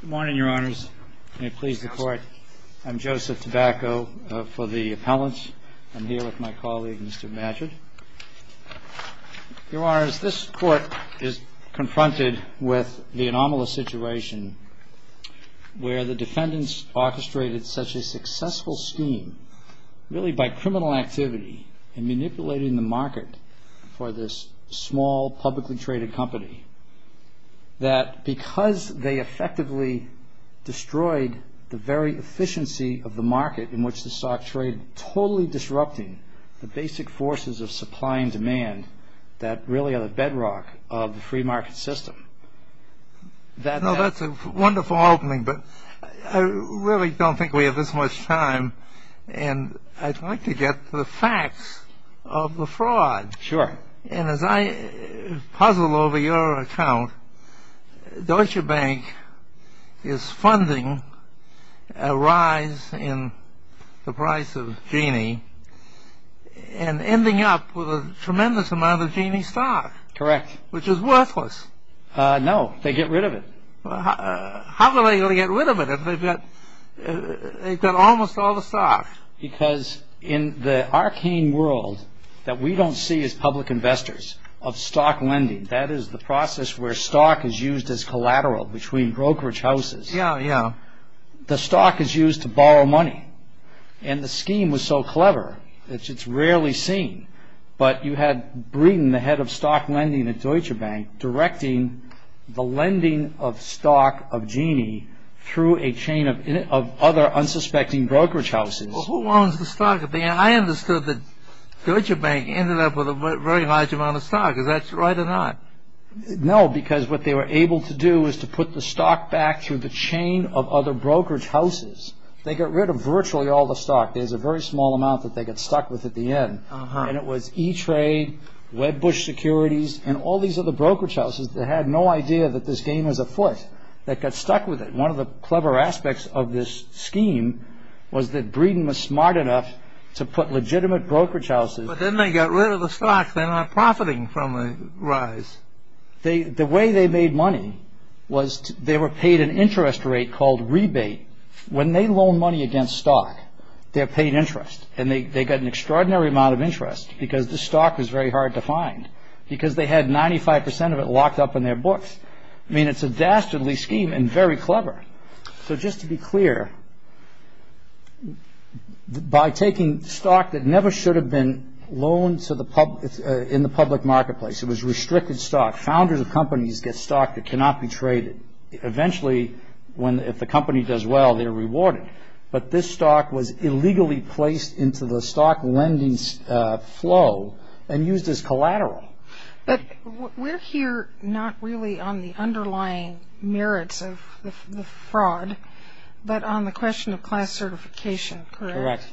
Good morning, Your Honors. May it please the Court. I'm Joseph Tobacco for the Appellants. I'm here with my colleague, Mr. Madgett. Your Honors, this Court is confronted with the anomalous situation where the defendants orchestrated such a successful scheme, really by criminal activity and manipulating the market for this small, publicly traded company, that because they effectively destroyed the very efficiency of the market in which the stock traded, totally disrupting the basic forces of supply and demand that really are the bedrock of the free market system. That's a wonderful opening, but I really don't think we have this much time, and I'd like to get to the facts of the fraud. Sure. And as I puzzle over your account, Deutsche Bank is funding a rise in the price of Genie and ending up with a tremendous amount of Genie stock. Correct. Which is worthless. No, they get rid of it. How are they going to get rid of it if they've got almost all the stock? Because in the arcane world that we don't see as public investors of stock lending, that is the process where stock is used as collateral between brokerage houses. Yeah, yeah. The stock is used to borrow money, and the scheme was so clever that it's rarely seen, but you had Breeden, the head of stock lending at Deutsche Bank, directing the lending of stock of Genie through a chain of other unsuspecting brokerage houses. Who owns the stock? I understood that Deutsche Bank ended up with a very large amount of stock. Is that right or not? No, because what they were able to do was to put the stock back through the chain of other brokerage houses. They got rid of virtually all the stock. There's a very small amount that they got stuck with at the end, and it was E-Trade, Webb Bush Securities, and all these other brokerage houses that had no idea that this game was afoot, that got stuck with it. One of the clever aspects of this scheme was that Breeden was smart enough to put legitimate brokerage houses. But then they got rid of the stock. They're not profiting from the rise. The way they made money was they were paid an interest rate called rebate. When they loan money against stock, they're paid interest, and they got an extraordinary amount of interest because the stock was very hard to find because they had 95 percent of it locked up in their books. I mean, it's a dastardly scheme and very clever. So just to be clear, by taking stock that never should have been loaned in the public marketplace, it was restricted stock, founders of companies get stock that cannot be traded. Eventually, if the company does well, they're rewarded. But this stock was illegally placed into the stock lending flow and used as collateral. But we're here not really on the underlying merits of the fraud, but on the question of class certification, correct? Correct.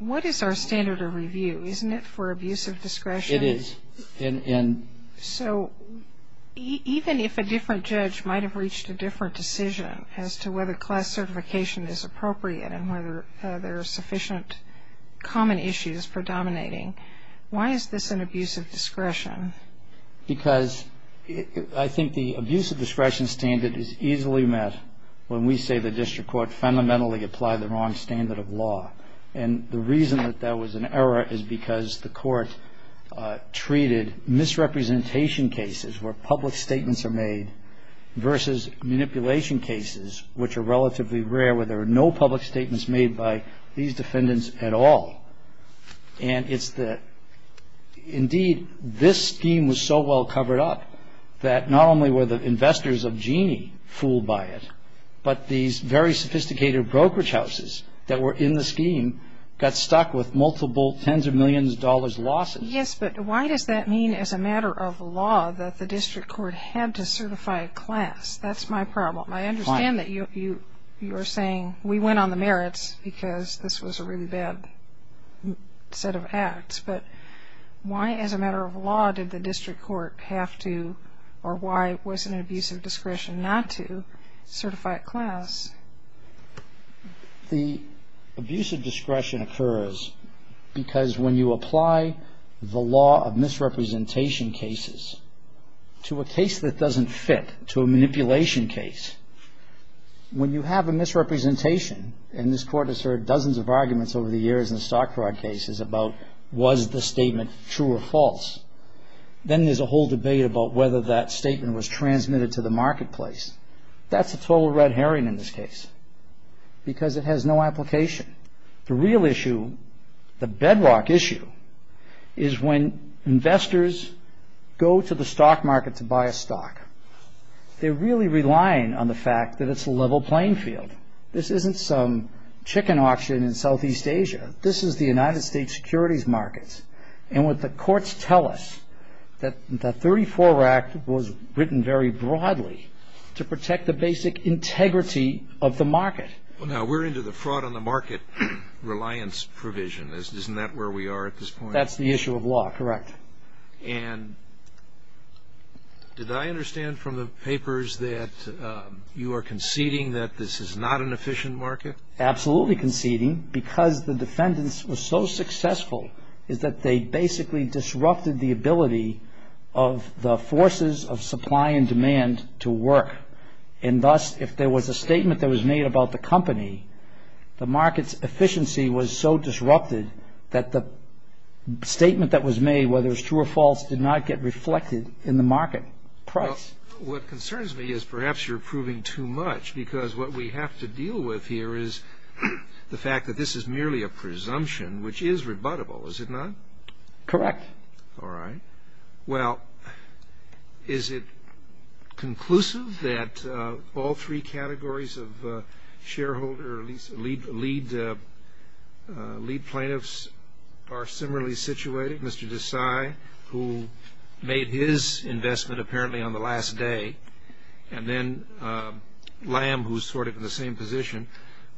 What is our standard of review? Isn't it for abuse of discretion? It is. So even if a different judge might have reached a different decision as to whether class certification is appropriate and whether there are sufficient common issues for dominating, why is this an abuse of discretion? Because I think the abuse of discretion standard is easily met when we say the district court fundamentally applied the wrong standard of law. And the reason that that was an error is because the court treated misrepresentation cases where public statements are made versus manipulation cases, which are relatively rare where there are no public statements made by these defendants at all. And it's the indeed this scheme was so well covered up that not only were the investors of Genie fooled by it, but these very sophisticated brokerage houses that were in the scheme got stuck with multiple tens of millions of dollars losses. Yes, but why does that mean as a matter of law that the district court had to certify a class? That's my problem. I understand that you're saying we went on the merits because this was a really bad set of acts. But why as a matter of law did the district court have to or why was it an abuse of discretion not to certify a class? The abuse of discretion occurs because when you apply the law of misrepresentation cases to a case that doesn't fit, to a manipulation case, when you have a misrepresentation, and this court has heard dozens of arguments over the years in the stock fraud cases about was the statement true or false, then there's a whole debate about whether that statement was transmitted to the marketplace. That's a total red herring in this case because it has no application. The real issue, the bedrock issue, is when investors go to the stock market to buy a stock, they're really relying on the fact that it's a level playing field. This isn't some chicken auction in Southeast Asia. This is the United States securities markets. And what the courts tell us, that the 34 Act was written very broadly to protect the basic integrity of the market. Now, we're into the fraud on the market reliance provision. Isn't that where we are at this point? That's the issue of law. Correct. And did I understand from the papers that you are conceding that this is not an efficient market? Absolutely conceding because the defendants were so successful is that they basically disrupted the ability of the forces of supply and demand to work. And thus, if there was a statement that was made about the company, the market's efficiency was so disrupted that the statement that was made, whether it was true or false, did not get reflected in the market price. What concerns me is perhaps you're proving too much because what we have to deal with here is the fact that this is merely a presumption, which is rebuttable, is it not? Correct. All right. Well, is it conclusive that all three categories of lead plaintiffs are similarly situated? Mr. Desai, who made his investment apparently on the last day, and then Lamb, who is sort of in the same position.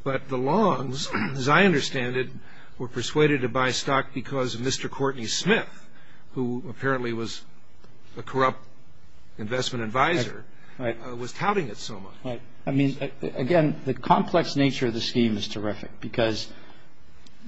But the Longs, as I understand it, were persuaded to buy stock because Mr. Courtney Smith, who apparently was a corrupt investment advisor, was touting it so much. Right. I mean, again, the complex nature of the scheme is terrific because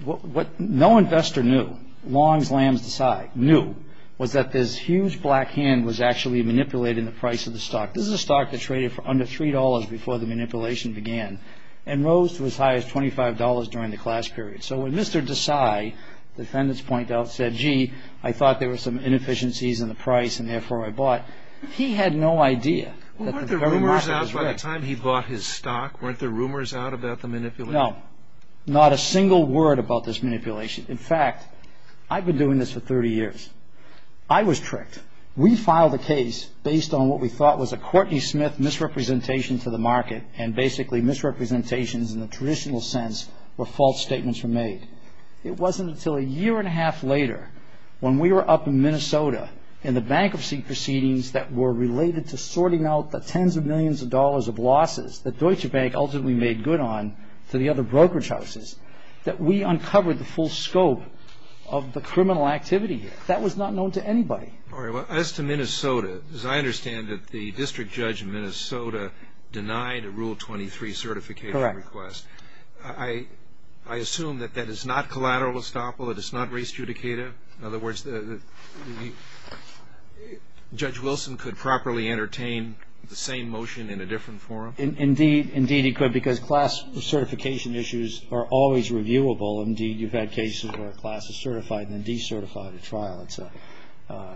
what no investor knew, Longs, Lambs, Desai knew, was that this huge black hand was actually manipulating the price of the stock. This is a stock that traded for under $3 before the manipulation began and rose to as high as $25 during the class period. So when Mr. Desai, defendants point out, said, gee, I thought there were some inefficiencies in the price and therefore I bought, he had no idea. Weren't there rumors out by the time he bought his stock? Weren't there rumors out about the manipulation? No. Not a single word about this manipulation. In fact, I've been doing this for 30 years. I was tricked. We filed a case based on what we thought was a Courtney Smith misrepresentation to the market and basically misrepresentations in the traditional sense where false statements were made. It wasn't until a year and a half later when we were up in Minnesota in the bankruptcy proceedings that were related to sorting out the tens of millions of dollars of losses that we uncovered the full scope of the criminal activity. That was not known to anybody. As to Minnesota, as I understand it, the district judge in Minnesota denied a Rule 23 certification request. Correct. I assume that that is not collateral estoppel. It is not restudicative. In other words, Judge Wilson could properly entertain the same motion in a different forum. Indeed he could because class certification issues are always reviewable. Indeed, you've had cases where a class is certified and decertified at trial.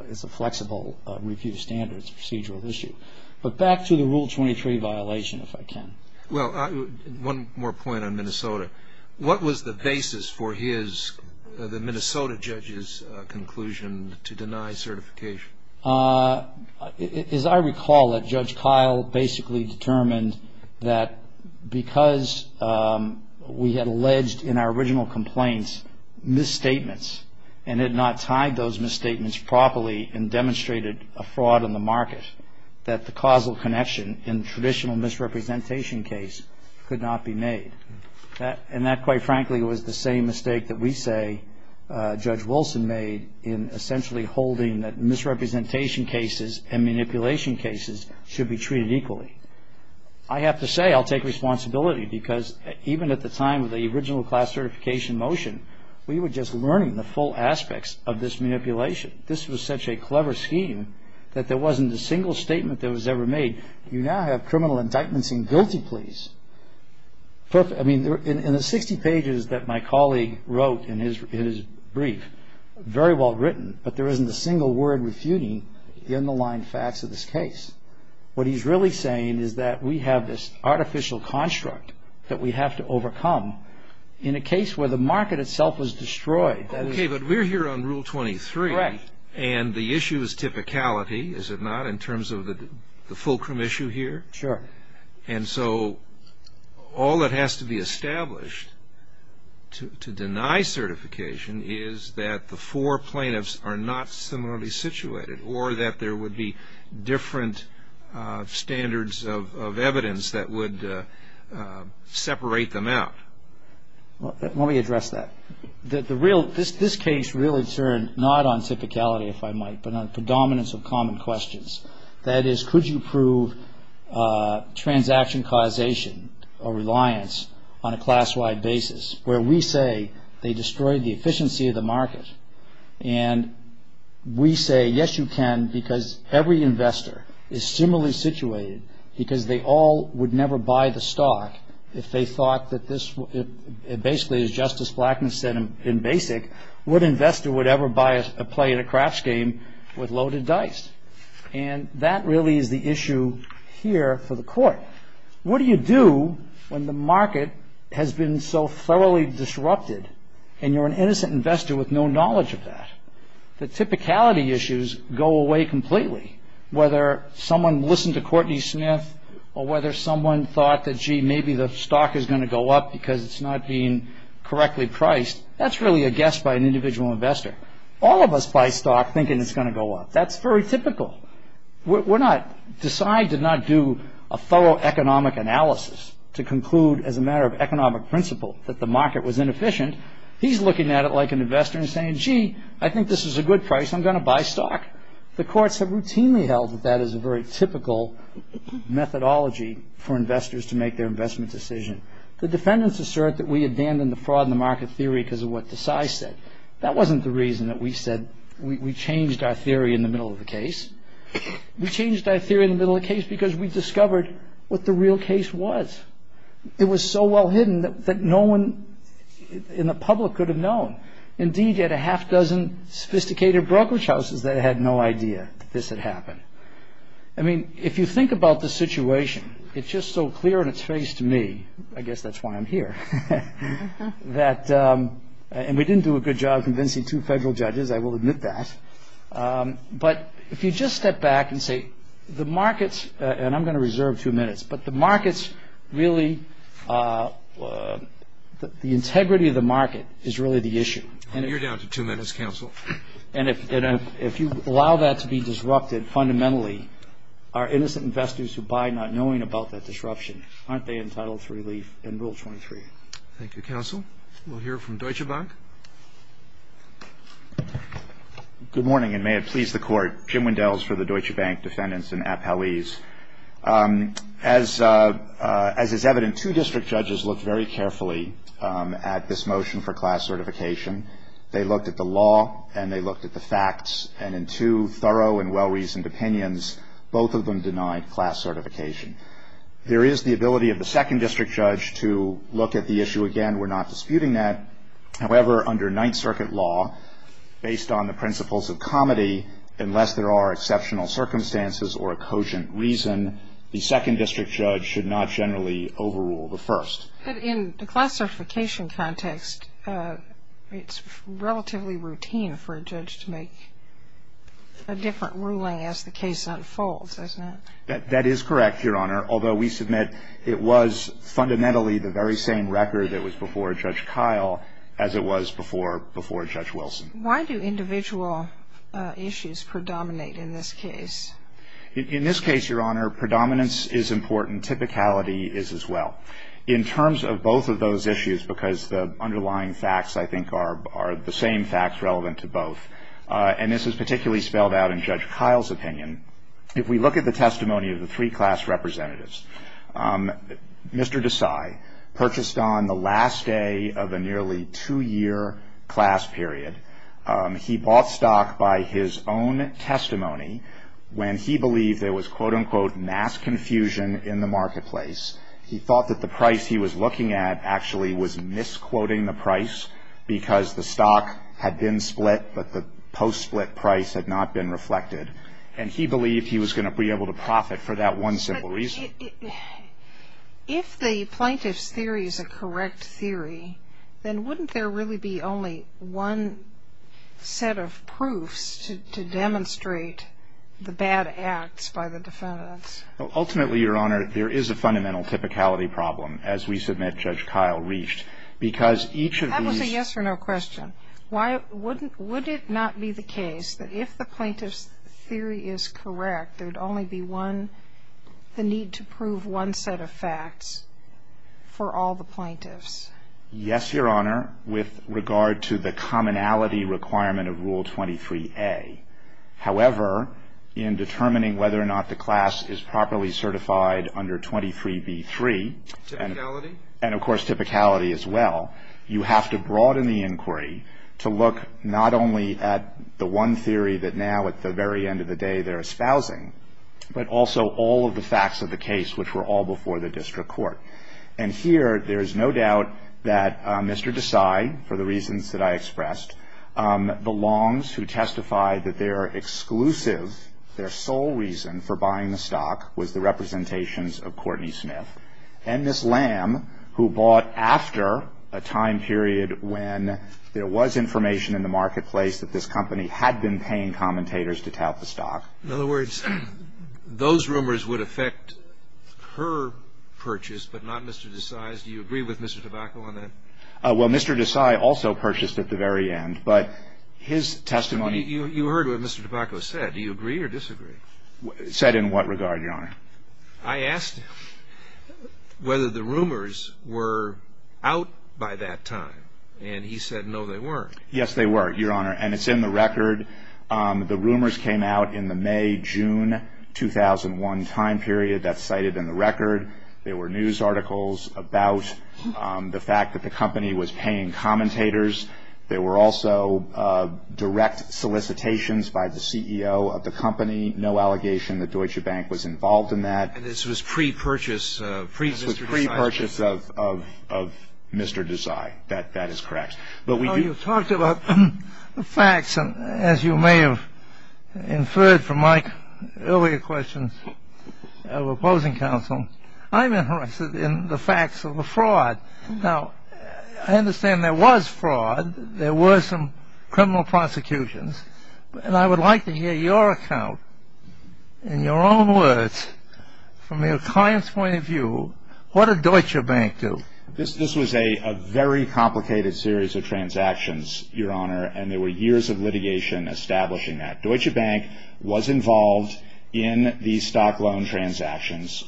It's a flexible review standard. It's a procedural issue. But back to the Rule 23 violation, if I can. Well, one more point on Minnesota. What was the basis for the Minnesota judge's conclusion to deny certification? As I recall it, Judge Kyle basically determined that because we had alleged in our original complaints misstatements and had not tied those misstatements properly and demonstrated a fraud on the market, that the causal connection in traditional misrepresentation case could not be made. And that, quite frankly, was the same mistake that we say Judge Wilson made in essentially holding that misrepresentation cases and manipulation cases should be treated equally. I have to say I'll take responsibility because even at the time of the original class certification motion, we were just learning the full aspects of this manipulation. This was such a clever scheme that there wasn't a single statement that was ever made. You now have criminal indictments and guilty pleas. I mean, in the 60 pages that my colleague wrote in his brief, very well written, but there isn't a single word refuting the underlying facts of this case. What he's really saying is that we have this artificial construct that we have to overcome in a case where the market itself was destroyed. Okay, but we're here on Rule 23. Correct. And the issue is typicality, is it not, in terms of the fulcrum issue here? Sure. And so all that has to be established to deny certification is that the four plaintiffs are not similarly situated or that there would be different standards of evidence that would separate them out. Let me address that. This case really turned not on typicality, if I might, but on predominance of common questions. That is, could you prove transaction causation or reliance on a class-wide basis where we say they destroyed the efficiency of the market, and we say, yes, you can, because every investor is similarly situated because they all would never buy the stock if they thought that this was, basically, as Justice Blackman said in Basic, what investor would ever buy a play in a craps game with loaded dice? And that really is the issue here for the Court. What do you do when the market has been so thoroughly disrupted and you're an innocent investor with no knowledge of that? The typicality issues go away completely, whether someone listened to Courtney Smith or whether someone thought that, gee, maybe the stock is going to go up because it's not being correctly priced. That's really a guess by an individual investor. All of us buy stock thinking it's going to go up. That's very typical. When I decide to not do a thorough economic analysis to conclude, as a matter of economic principle, that the market was inefficient, he's looking at it like an investor and saying, gee, I think this is a good price, I'm going to buy stock. The courts have routinely held that that is a very typical methodology for investors to make their investment decision. The defendants assert that we abandoned the fraud in the market theory because of what Desai said. That wasn't the reason that we said we changed our theory in the middle of the case. We changed our theory in the middle of the case because we discovered what the real case was. It was so well hidden that no one in the public could have known. Indeed, you had a half dozen sophisticated brokerage houses that had no idea that this had happened. I mean, if you think about the situation, it's just so clear in its face to me. I guess that's why I'm here. And we didn't do a good job convincing two federal judges, I will admit that. But if you just step back and say the markets, and I'm going to reserve two minutes, but the markets really, the integrity of the market is really the issue. You're down to two minutes, counsel. And if you allow that to be disrupted fundamentally, our innocent investors who buy not knowing about that disruption, aren't they entitled to relief in Rule 23? Thank you, counsel. We'll hear from Deutsche Bank. Good morning, and may it please the Court. Jim Wendells for the Deutsche Bank defendants in Appalese. As is evident, two district judges looked very carefully at this motion for class certification. They looked at the law, and they looked at the facts, and in two thorough and well-reasoned opinions, both of them denied class certification. There is the ability of the second district judge to look at the issue again. We're not disputing that. However, under Ninth Circuit law, based on the principles of comity, unless there are exceptional circumstances or a cogent reason, the second district judge should not generally overrule the first. But in the classification context, it's relatively routine for a judge to make a different ruling as the case unfolds, isn't it? That is correct, Your Honor, although we submit it was fundamentally the very same record that was before Judge Kyle as it was before Judge Wilson. Why do individual issues predominate in this case? In this case, Your Honor, predominance is important. Typicality is as well. In terms of both of those issues, because the underlying facts, I think, are the same facts relevant to both, and this is particularly spelled out in Judge Kyle's opinion, if we look at the testimony of the three class representatives, Mr. Desai purchased on the last day of a nearly two-year class period. He bought stock by his own testimony when he believed there was, quote, unquote, mass confusion in the marketplace. He thought that the price he was looking at actually was misquoting the price because the stock had been split but the post-split price had not been reflected, and he believed he was going to be able to profit for that one simple reason. But if the plaintiff's theory is a correct theory, then wouldn't there really be only one set of proofs to demonstrate the bad acts by the defendants? Ultimately, Your Honor, there is a fundamental typicality problem as we submit Judge Kyle reached, because each of these ---- That was a yes-or-no question. Would it not be the case that if the plaintiff's theory is correct, there would only be one, the need to prove one set of facts for all the plaintiffs? Yes, Your Honor, with regard to the commonality requirement of Rule 23a. However, in determining whether or not the class is properly certified under 23b-3. Typicality? And, of course, typicality as well. You have to broaden the inquiry to look not only at the one theory that now, at the very end of the day, they're espousing, but also all of the facts of the case which were all before the district court. And here there is no doubt that Mr. Desai, for the reasons that I expressed, the Longs who testified that their exclusive, their sole reason for buying the stock was the representations of Courtney Smith, and Ms. Lamb who bought after a time period when there was information in the marketplace that this company had been paying commentators to tout the stock. In other words, those rumors would affect her purchase, but not Mr. Desai's? Do you agree with Mr. Tobacco on that? Well, Mr. Desai also purchased at the very end, but his testimony You heard what Mr. Tobacco said. Do you agree or disagree? Said in what regard, Your Honor? I asked him whether the rumors were out by that time, and he said no, they weren't. Yes, they were, Your Honor, and it's in the record. The rumors came out in the May-June 2001 time period. That's cited in the record. There were news articles about the fact that the company was paying commentators. There were also direct solicitations by the CEO of the company, no allegation that Deutsche Bank was involved in that. And this was pre-purchase, pre-Mr. Desai. This was pre-purchase of Mr. Desai. That is correct. You talked about the facts, and as you may have inferred from my earlier questions of opposing counsel, I'm interested in the facts of the fraud. Now, I understand there was fraud. There were some criminal prosecutions. And I would like to hear your account, in your own words, from your client's point of view, what did Deutsche Bank do? This was a very complicated series of transactions, Your Honor, and there were years of litigation establishing that. Deutsche Bank was involved in the stock loan transactions.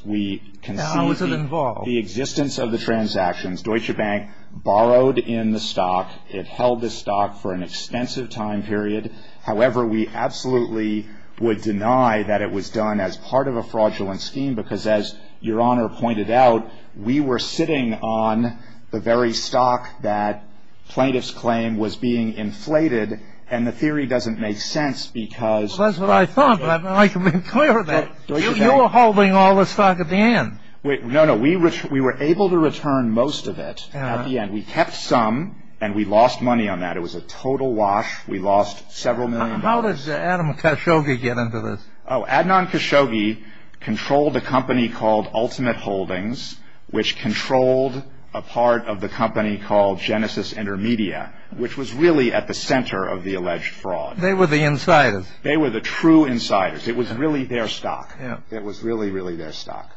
How was it involved? We can see the existence of the transactions. Deutsche Bank borrowed in the stock. It held the stock for an extensive time period. However, we absolutely would deny that it was done as part of a fraudulent scheme, because as Your Honor pointed out, we were sitting on the very stock that plaintiffs claimed was being inflated, and the theory doesn't make sense because... Well, that's what I thought, but I'd like to be clear that you were holding all the stock at the end. No, no. We were able to return most of it at the end. We kept some, and we lost money on that. It was a total wash. We lost several million. How does Adam Khashoggi get into this? Oh, Adnan Khashoggi controlled a company called Ultimate Holdings, which controlled a part of the company called Genesis Intermedia, which was really at the center of the alleged fraud. They were the insiders. They were the true insiders. It was really their stock. It was really, really their stock.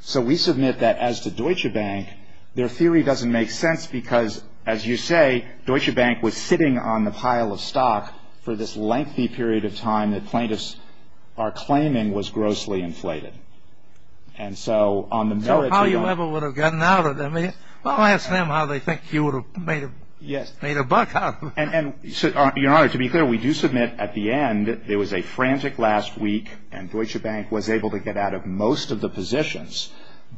So we submit that as to Deutsche Bank, their theory doesn't make sense because, as you say, Deutsche Bank was sitting on the pile of stock for this lengthy period of time when the plaintiffs are claiming was grossly inflated. So how you ever would have gotten out of it? Well, ask them how they think you would have made a buck out of it. Your Honor, to be clear, we do submit at the end there was a frantic last week, and Deutsche Bank was able to get out of most of the positions,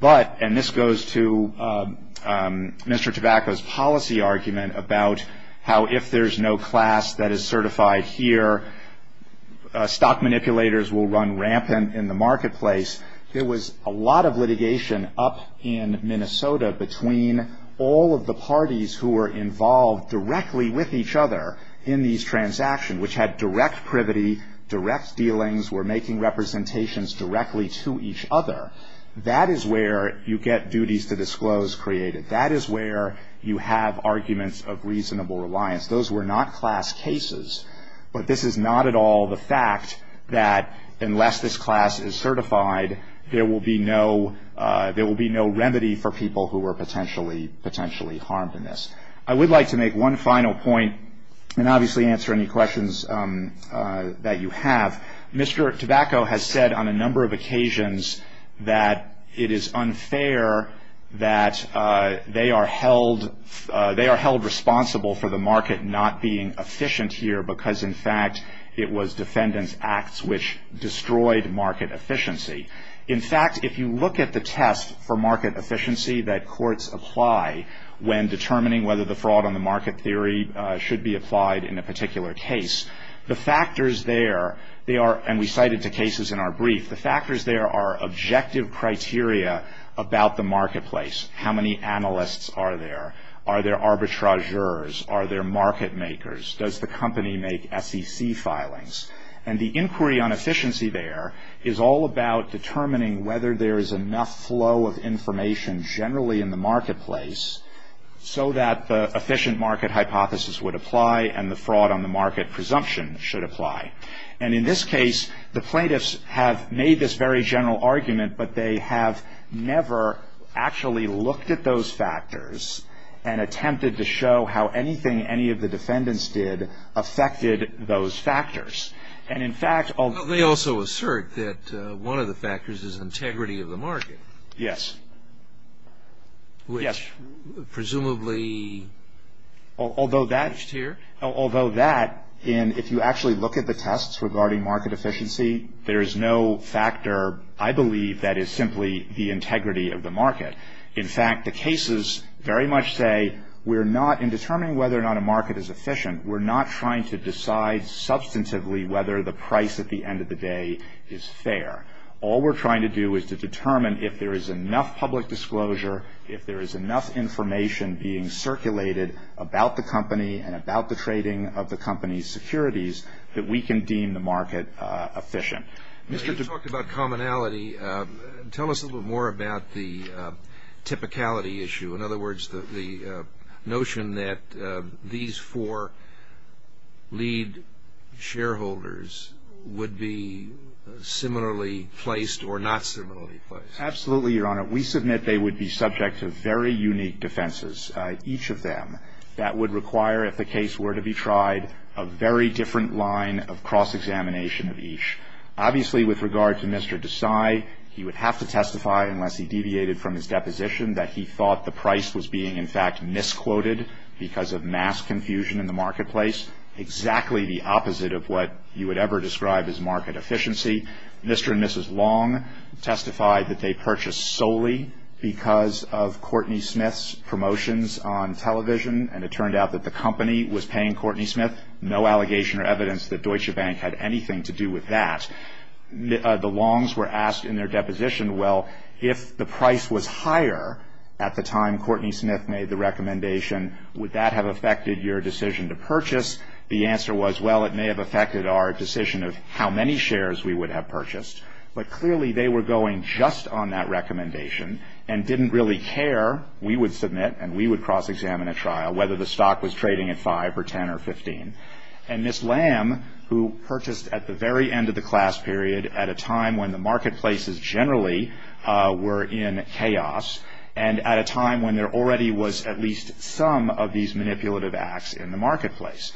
and this goes to Mr. Tabacco's policy argument about how, if there's no class that is certified here, stock manipulators will run rampant in the marketplace. There was a lot of litigation up in Minnesota between all of the parties who were involved directly with each other in these transactions, which had direct privity, direct dealings, were making representations directly to each other. That is where you get duties to disclose created. That is where you have arguments of reasonable reliance. Those were not class cases, but this is not at all the fact that unless this class is certified, there will be no remedy for people who are potentially harmed in this. I would like to make one final point and obviously answer any questions that you have. Mr. Tabacco has said on a number of occasions that it is unfair that they are held responsible for the market not being efficient here because, in fact, it was defendants' acts which destroyed market efficiency. In fact, if you look at the test for market efficiency that courts apply when determining whether the fraud on the market theory should be applied in a particular case, the factors there, and we cited the cases in our brief, the factors there are objective criteria about the marketplace. How many analysts are there? Are there arbitrageurs? Are there market makers? Does the company make SEC filings? And the inquiry on efficiency there is all about determining whether there is enough flow of information generally in the marketplace so that the efficient market hypothesis would apply and the fraud on the market presumption should apply. And in this case, the plaintiffs have made this very general argument, but they have never actually looked at those factors and attempted to show how anything any of the defendants did affected those factors. And, in fact, although they also assert that one of the factors is integrity of the market. Yes. Which presumably... Although that... There is no factor, I believe, that is simply the integrity of the market. In fact, the cases very much say we're not... In determining whether or not a market is efficient, we're not trying to decide substantively whether the price at the end of the day is fair. All we're trying to do is to determine if there is enough public disclosure, if there is enough information being circulated about the company and about the trading of the company's securities that we can deem the market efficient. You talked about commonality. Tell us a little bit more about the typicality issue. In other words, the notion that these four lead shareholders would be similarly placed or not similarly placed. Absolutely, Your Honor. We submit they would be subject to very unique defenses, each of them, that would require, if the case were to be tried, a very different line of cross-examination of each. Obviously, with regard to Mr. Desai, he would have to testify, unless he deviated from his deposition, that he thought the price was being, in fact, misquoted because of mass confusion in the marketplace. Exactly the opposite of what you would ever describe as market efficiency. Mr. and Mrs. Long testified that they purchased solely because of Courtney Smith's promotions on television, and it turned out that the company was paying Courtney Smith. No allegation or evidence that Deutsche Bank had anything to do with that. The Longs were asked in their deposition, well, if the price was higher at the time Courtney Smith made the recommendation, would that have affected your decision to purchase? The answer was, well, it may have affected our decision of how many shares we would have purchased, but clearly they were going just on that recommendation and didn't really care we would submit and we would cross-examine at trial whether the stock was trading at 5 or 10 or 15. And Ms. Lamb, who purchased at the very end of the class period, at a time when the marketplaces generally were in chaos, and at a time when there already was at least some of these manipulative acts in the marketplace,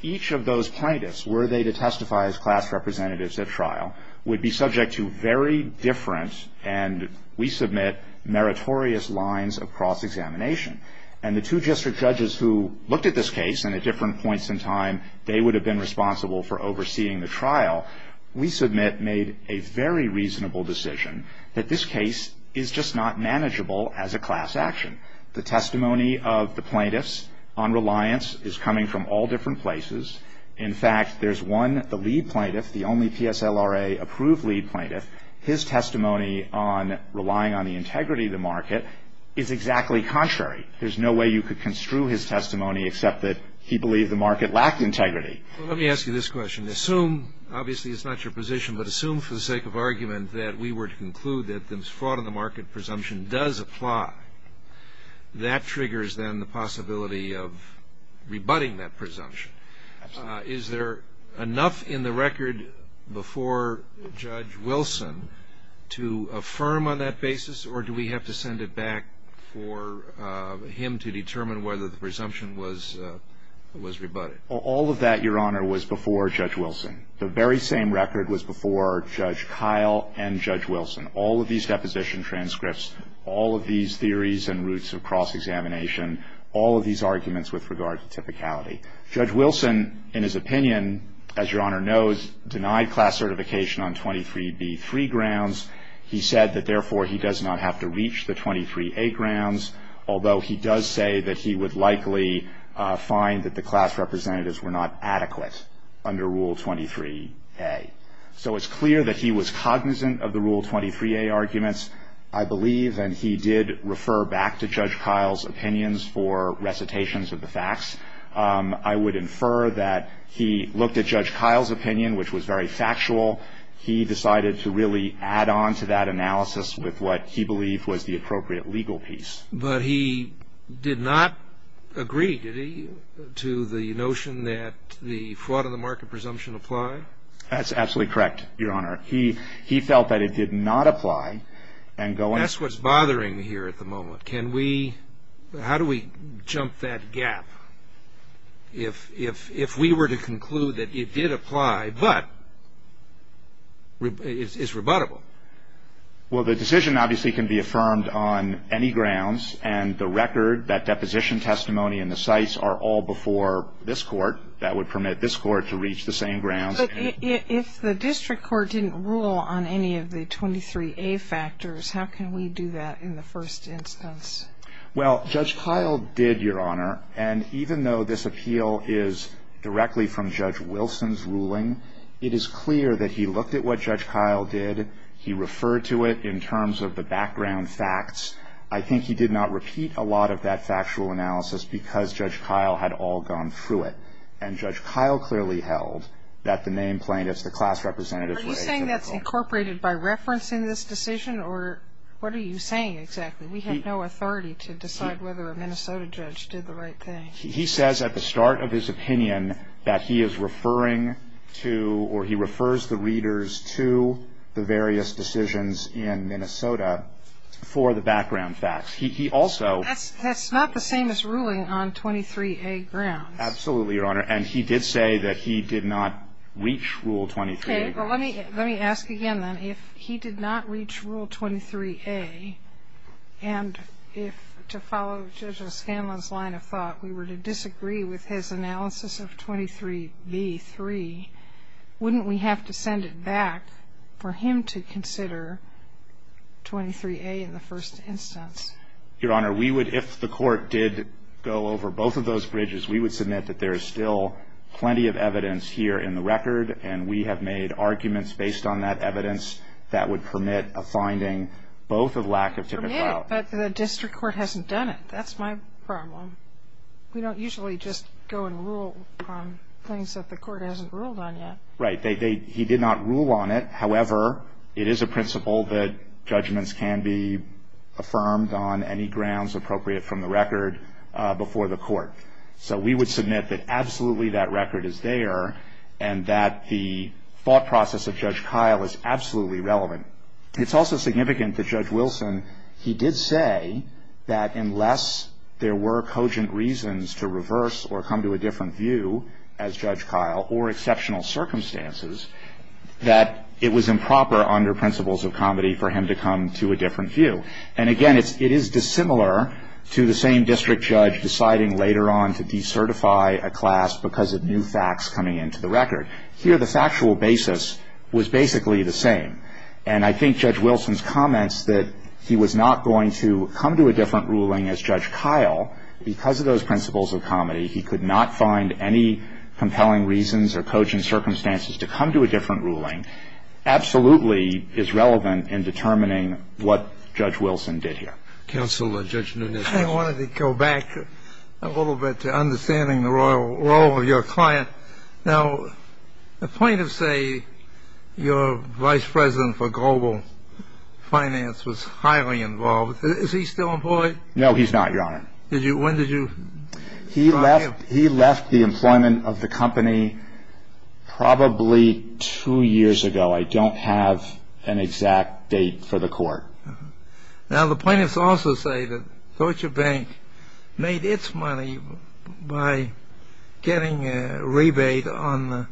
each of those plaintiffs, were they to testify as class representatives at trial, would be subject to very different and, we submit, meritorious lines of cross-examination. And the two district judges who looked at this case and at different points in time, they would have been responsible for overseeing the trial, we submit, made a very reasonable decision that this case is just not manageable as a class action. The testimony of the plaintiffs on reliance is coming from all different places. In fact, there's one, the lead plaintiff, the only PSLRA-approved lead plaintiff, his testimony on relying on the integrity of the market is exactly contrary. There's no way you could construe his testimony except that he believed the market lacked integrity. Let me ask you this question. I mean, assume, obviously it's not your position, but assume for the sake of argument that we were to conclude that this fraud in the market presumption does apply. That triggers, then, the possibility of rebutting that presumption. Is there enough in the record before Judge Wilson to affirm on that basis, or do we have to send it back for him to determine whether the presumption was rebutted? All of that, Your Honor, was before Judge Wilson. The very same record was before Judge Kyle and Judge Wilson. All of these deposition transcripts, all of these theories and routes of cross-examination, all of these arguments with regard to typicality. Judge Wilson, in his opinion, as Your Honor knows, denied class certification on 23B3 grounds. He said that, therefore, he does not have to reach the 23A grounds, although he does say that he would likely find that the class representatives were not adequate under Rule 23A. So it's clear that he was cognizant of the Rule 23A arguments, I believe, and he did refer back to Judge Kyle's opinions for recitations of the facts. I would infer that he looked at Judge Kyle's opinion, which was very factual. He decided to really add on to that analysis with what he believed was the appropriate legal piece. But he did not agree, did he, to the notion that the fraud of the market presumption applied? That's absolutely correct, Your Honor. He felt that it did not apply. That's what's bothering me here at the moment. How do we jump that gap if we were to conclude that it did apply but is rebuttable? Well, the decision obviously can be affirmed on any grounds, and the record, that deposition testimony, and the cites are all before this Court. That would permit this Court to reach the same grounds. But if the district court didn't rule on any of the 23A factors, how can we do that in the first instance? Well, Judge Kyle did, Your Honor. And even though this appeal is directly from Judge Wilson's ruling, it is clear that he looked at what Judge Kyle did. He referred to it in terms of the background facts. I think he did not repeat a lot of that factual analysis because Judge Kyle had all gone through it. And Judge Kyle clearly held that the name plaintiffs, the class representatives were exempt. Are you saying that's incorporated by reference in this decision, or what are you saying exactly? We have no authority to decide whether a Minnesota judge did the right thing. He says at the start of his opinion that he is referring to, or he refers the readers to the various decisions in Minnesota for the background facts. He also ---- That's not the same as ruling on 23A grounds. Absolutely, Your Honor. And he did say that he did not reach Rule 23A. Okay. Well, let me ask again then. If he did not reach Rule 23A, and if, to follow Judge O'Scanlan's line of thought, we were to disagree with his analysis of 23B-3, wouldn't we have to send it back for him to consider 23A in the first instance? Your Honor, we would, if the Court did go over both of those bridges, we would submit that there is still plenty of evidence here in the record, and we have made arguments based on that evidence that would permit a finding both of lack of typical ---- Permit, but the district court hasn't done it. That's my problem. We don't usually just go and rule on things that the court hasn't ruled on yet. Right. He did not rule on it. However, it is a principle that judgments can be affirmed on any grounds appropriate from the record before the court. So we would submit that absolutely that record is there and that the thought process of Judge Kyle is absolutely relevant. It's also significant that Judge Wilson, he did say that unless there were cogent reasons to reverse or come to a different view as Judge Kyle or exceptional circumstances, that it was improper under principles of comedy for him to come to a different view. And, again, it is dissimilar to the same district judge deciding later on to decertify a class because of new facts coming into the record. Here the factual basis was basically the same. And I think Judge Wilson's comments that he was not going to come to a different ruling as Judge Kyle because of those principles of comedy, he could not find any compelling reasons or cogent circumstances to come to a different ruling, absolutely is relevant in determining what Judge Wilson did here. Counselor, Judge Nunez. I wanted to go back a little bit to understanding the role of your client. Now, the point of, say, your vice president for global finance was highly involved. Is he still employed? No, he's not, Your Honor. When did you drop him? He left the employment of the company probably two years ago. I don't have an exact date for the court. Now, the plaintiffs also say that Deutsche Bank made its money by getting a rebate on the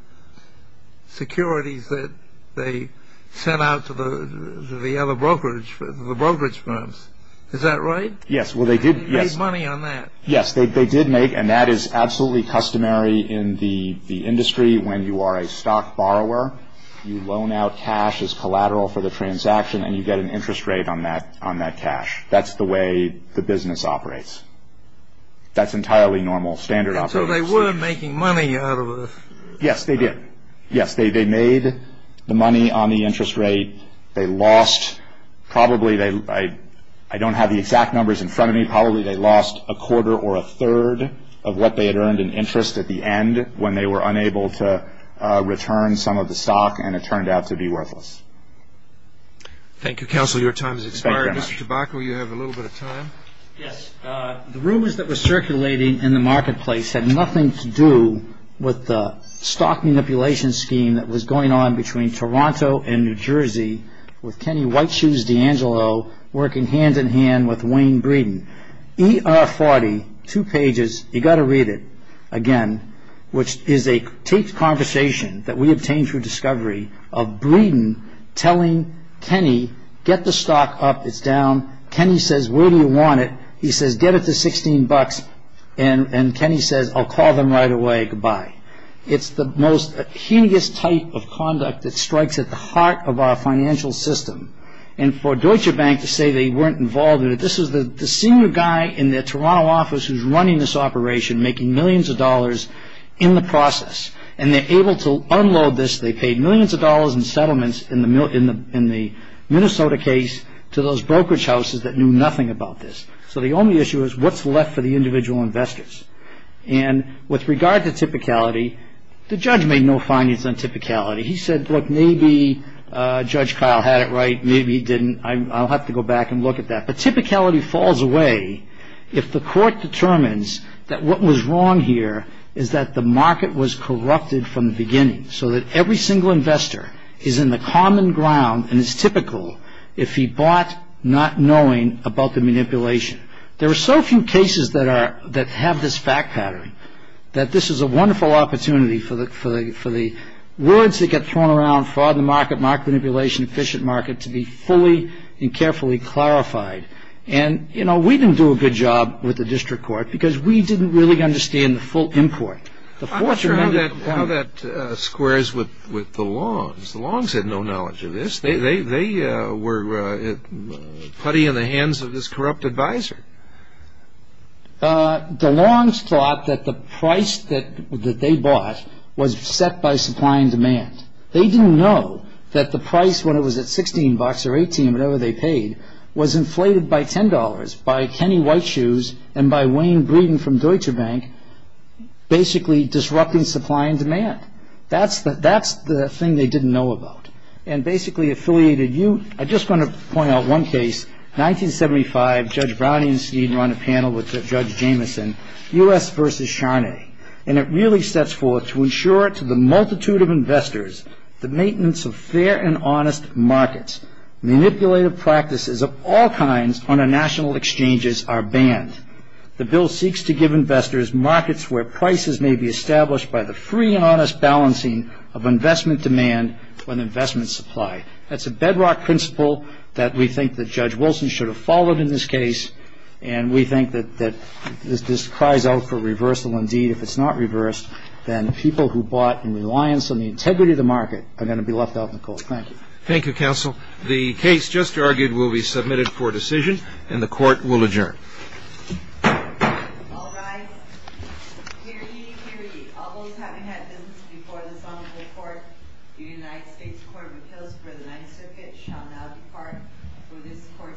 securities that they sent out to the other brokerage, the brokerage firms. Is that right? Yes. They made money on that. Yes, they did make, and that is absolutely customary in the industry when you are a stock borrower. You loan out cash as collateral for the transaction, and you get an interest rate on that cash. That's the way the business operates. That's entirely normal standard operation. So they were making money out of it. Yes, they did. Yes, they made the money on the interest rate. They lost probably, I don't have the exact numbers in front of me, but probably they lost a quarter or a third of what they had earned in interest at the end when they were unable to return some of the stock, and it turned out to be worthless. Thank you, counsel. Your time has expired. Mr. Tobacco, you have a little bit of time. Yes. The rumors that were circulating in the marketplace had nothing to do with the stock manipulation scheme that was going on between Toronto and New Jersey with Kenny White Shoes D'Angelo working hand-in-hand with Wayne Breeden. ER40, two pages, you've got to read it again, which is a taped conversation that we obtained through discovery of Breeden telling Kenny, get the stock up, it's down. Kenny says, where do you want it? He says, get it to 16 bucks, and Kenny says, I'll call them right away, goodbye. It's the most heinous type of conduct that strikes at the heart of our financial system. And for Deutsche Bank to say they weren't involved in it, this is the senior guy in their Toronto office who's running this operation, making millions of dollars in the process, and they're able to unload this. They paid millions of dollars in settlements in the Minnesota case to those brokerage houses that knew nothing about this. So the only issue is what's left for the individual investors. And with regard to typicality, the judge made no findings on typicality. He said, look, maybe Judge Kyle had it right, maybe he didn't. I'll have to go back and look at that. But typicality falls away if the court determines that what was wrong here is that the market was corrupted from the beginning, so that every single investor is in the common ground and is typical if he bought not knowing about the manipulation. There are so few cases that have this fact pattern, that this is a wonderful opportunity for the words that get thrown around, fraud in the market, market manipulation, efficient market, to be fully and carefully clarified. And, you know, we didn't do a good job with the district court because we didn't really understand the full import. I'm not sure how that squares with the Longs. The Longs had no knowledge of this. They were putty in the hands of this corrupt advisor. The Longs thought that the price that they bought was set by supply and demand. They didn't know that the price when it was at $16 or $18, whatever they paid, was inflated by $10 by Kenny White Shoes and by Wayne Breeden from Deutsche Bank, basically disrupting supply and demand. That's the thing they didn't know about. And basically affiliated you. I just want to point out one case, 1975, Judge Browning and Steen were on a panel with Judge Jamieson, U.S. v. Charnay. And it really sets forth to ensure to the multitude of investors the maintenance of fair and honest markets. Manipulative practices of all kinds on our national exchanges are banned. The bill seeks to give investors markets where prices may be established by the free and honest balancing of investment demand and investment supply. That's a bedrock principle that we think that Judge Wilson should have followed in this case. And we think that this cries out for reversal indeed. If it's not reversed, then the people who bought in reliance on the integrity of the market are going to be left out in the court. Thank you. Thank you, counsel. The case just argued will be submitted for decision, and the court will adjourn. All rise. Hear ye, hear ye. All those having had business before this honorable court, the United States Court of Appeals for the Ninth Circuit shall now depart, for this court stands adjourned.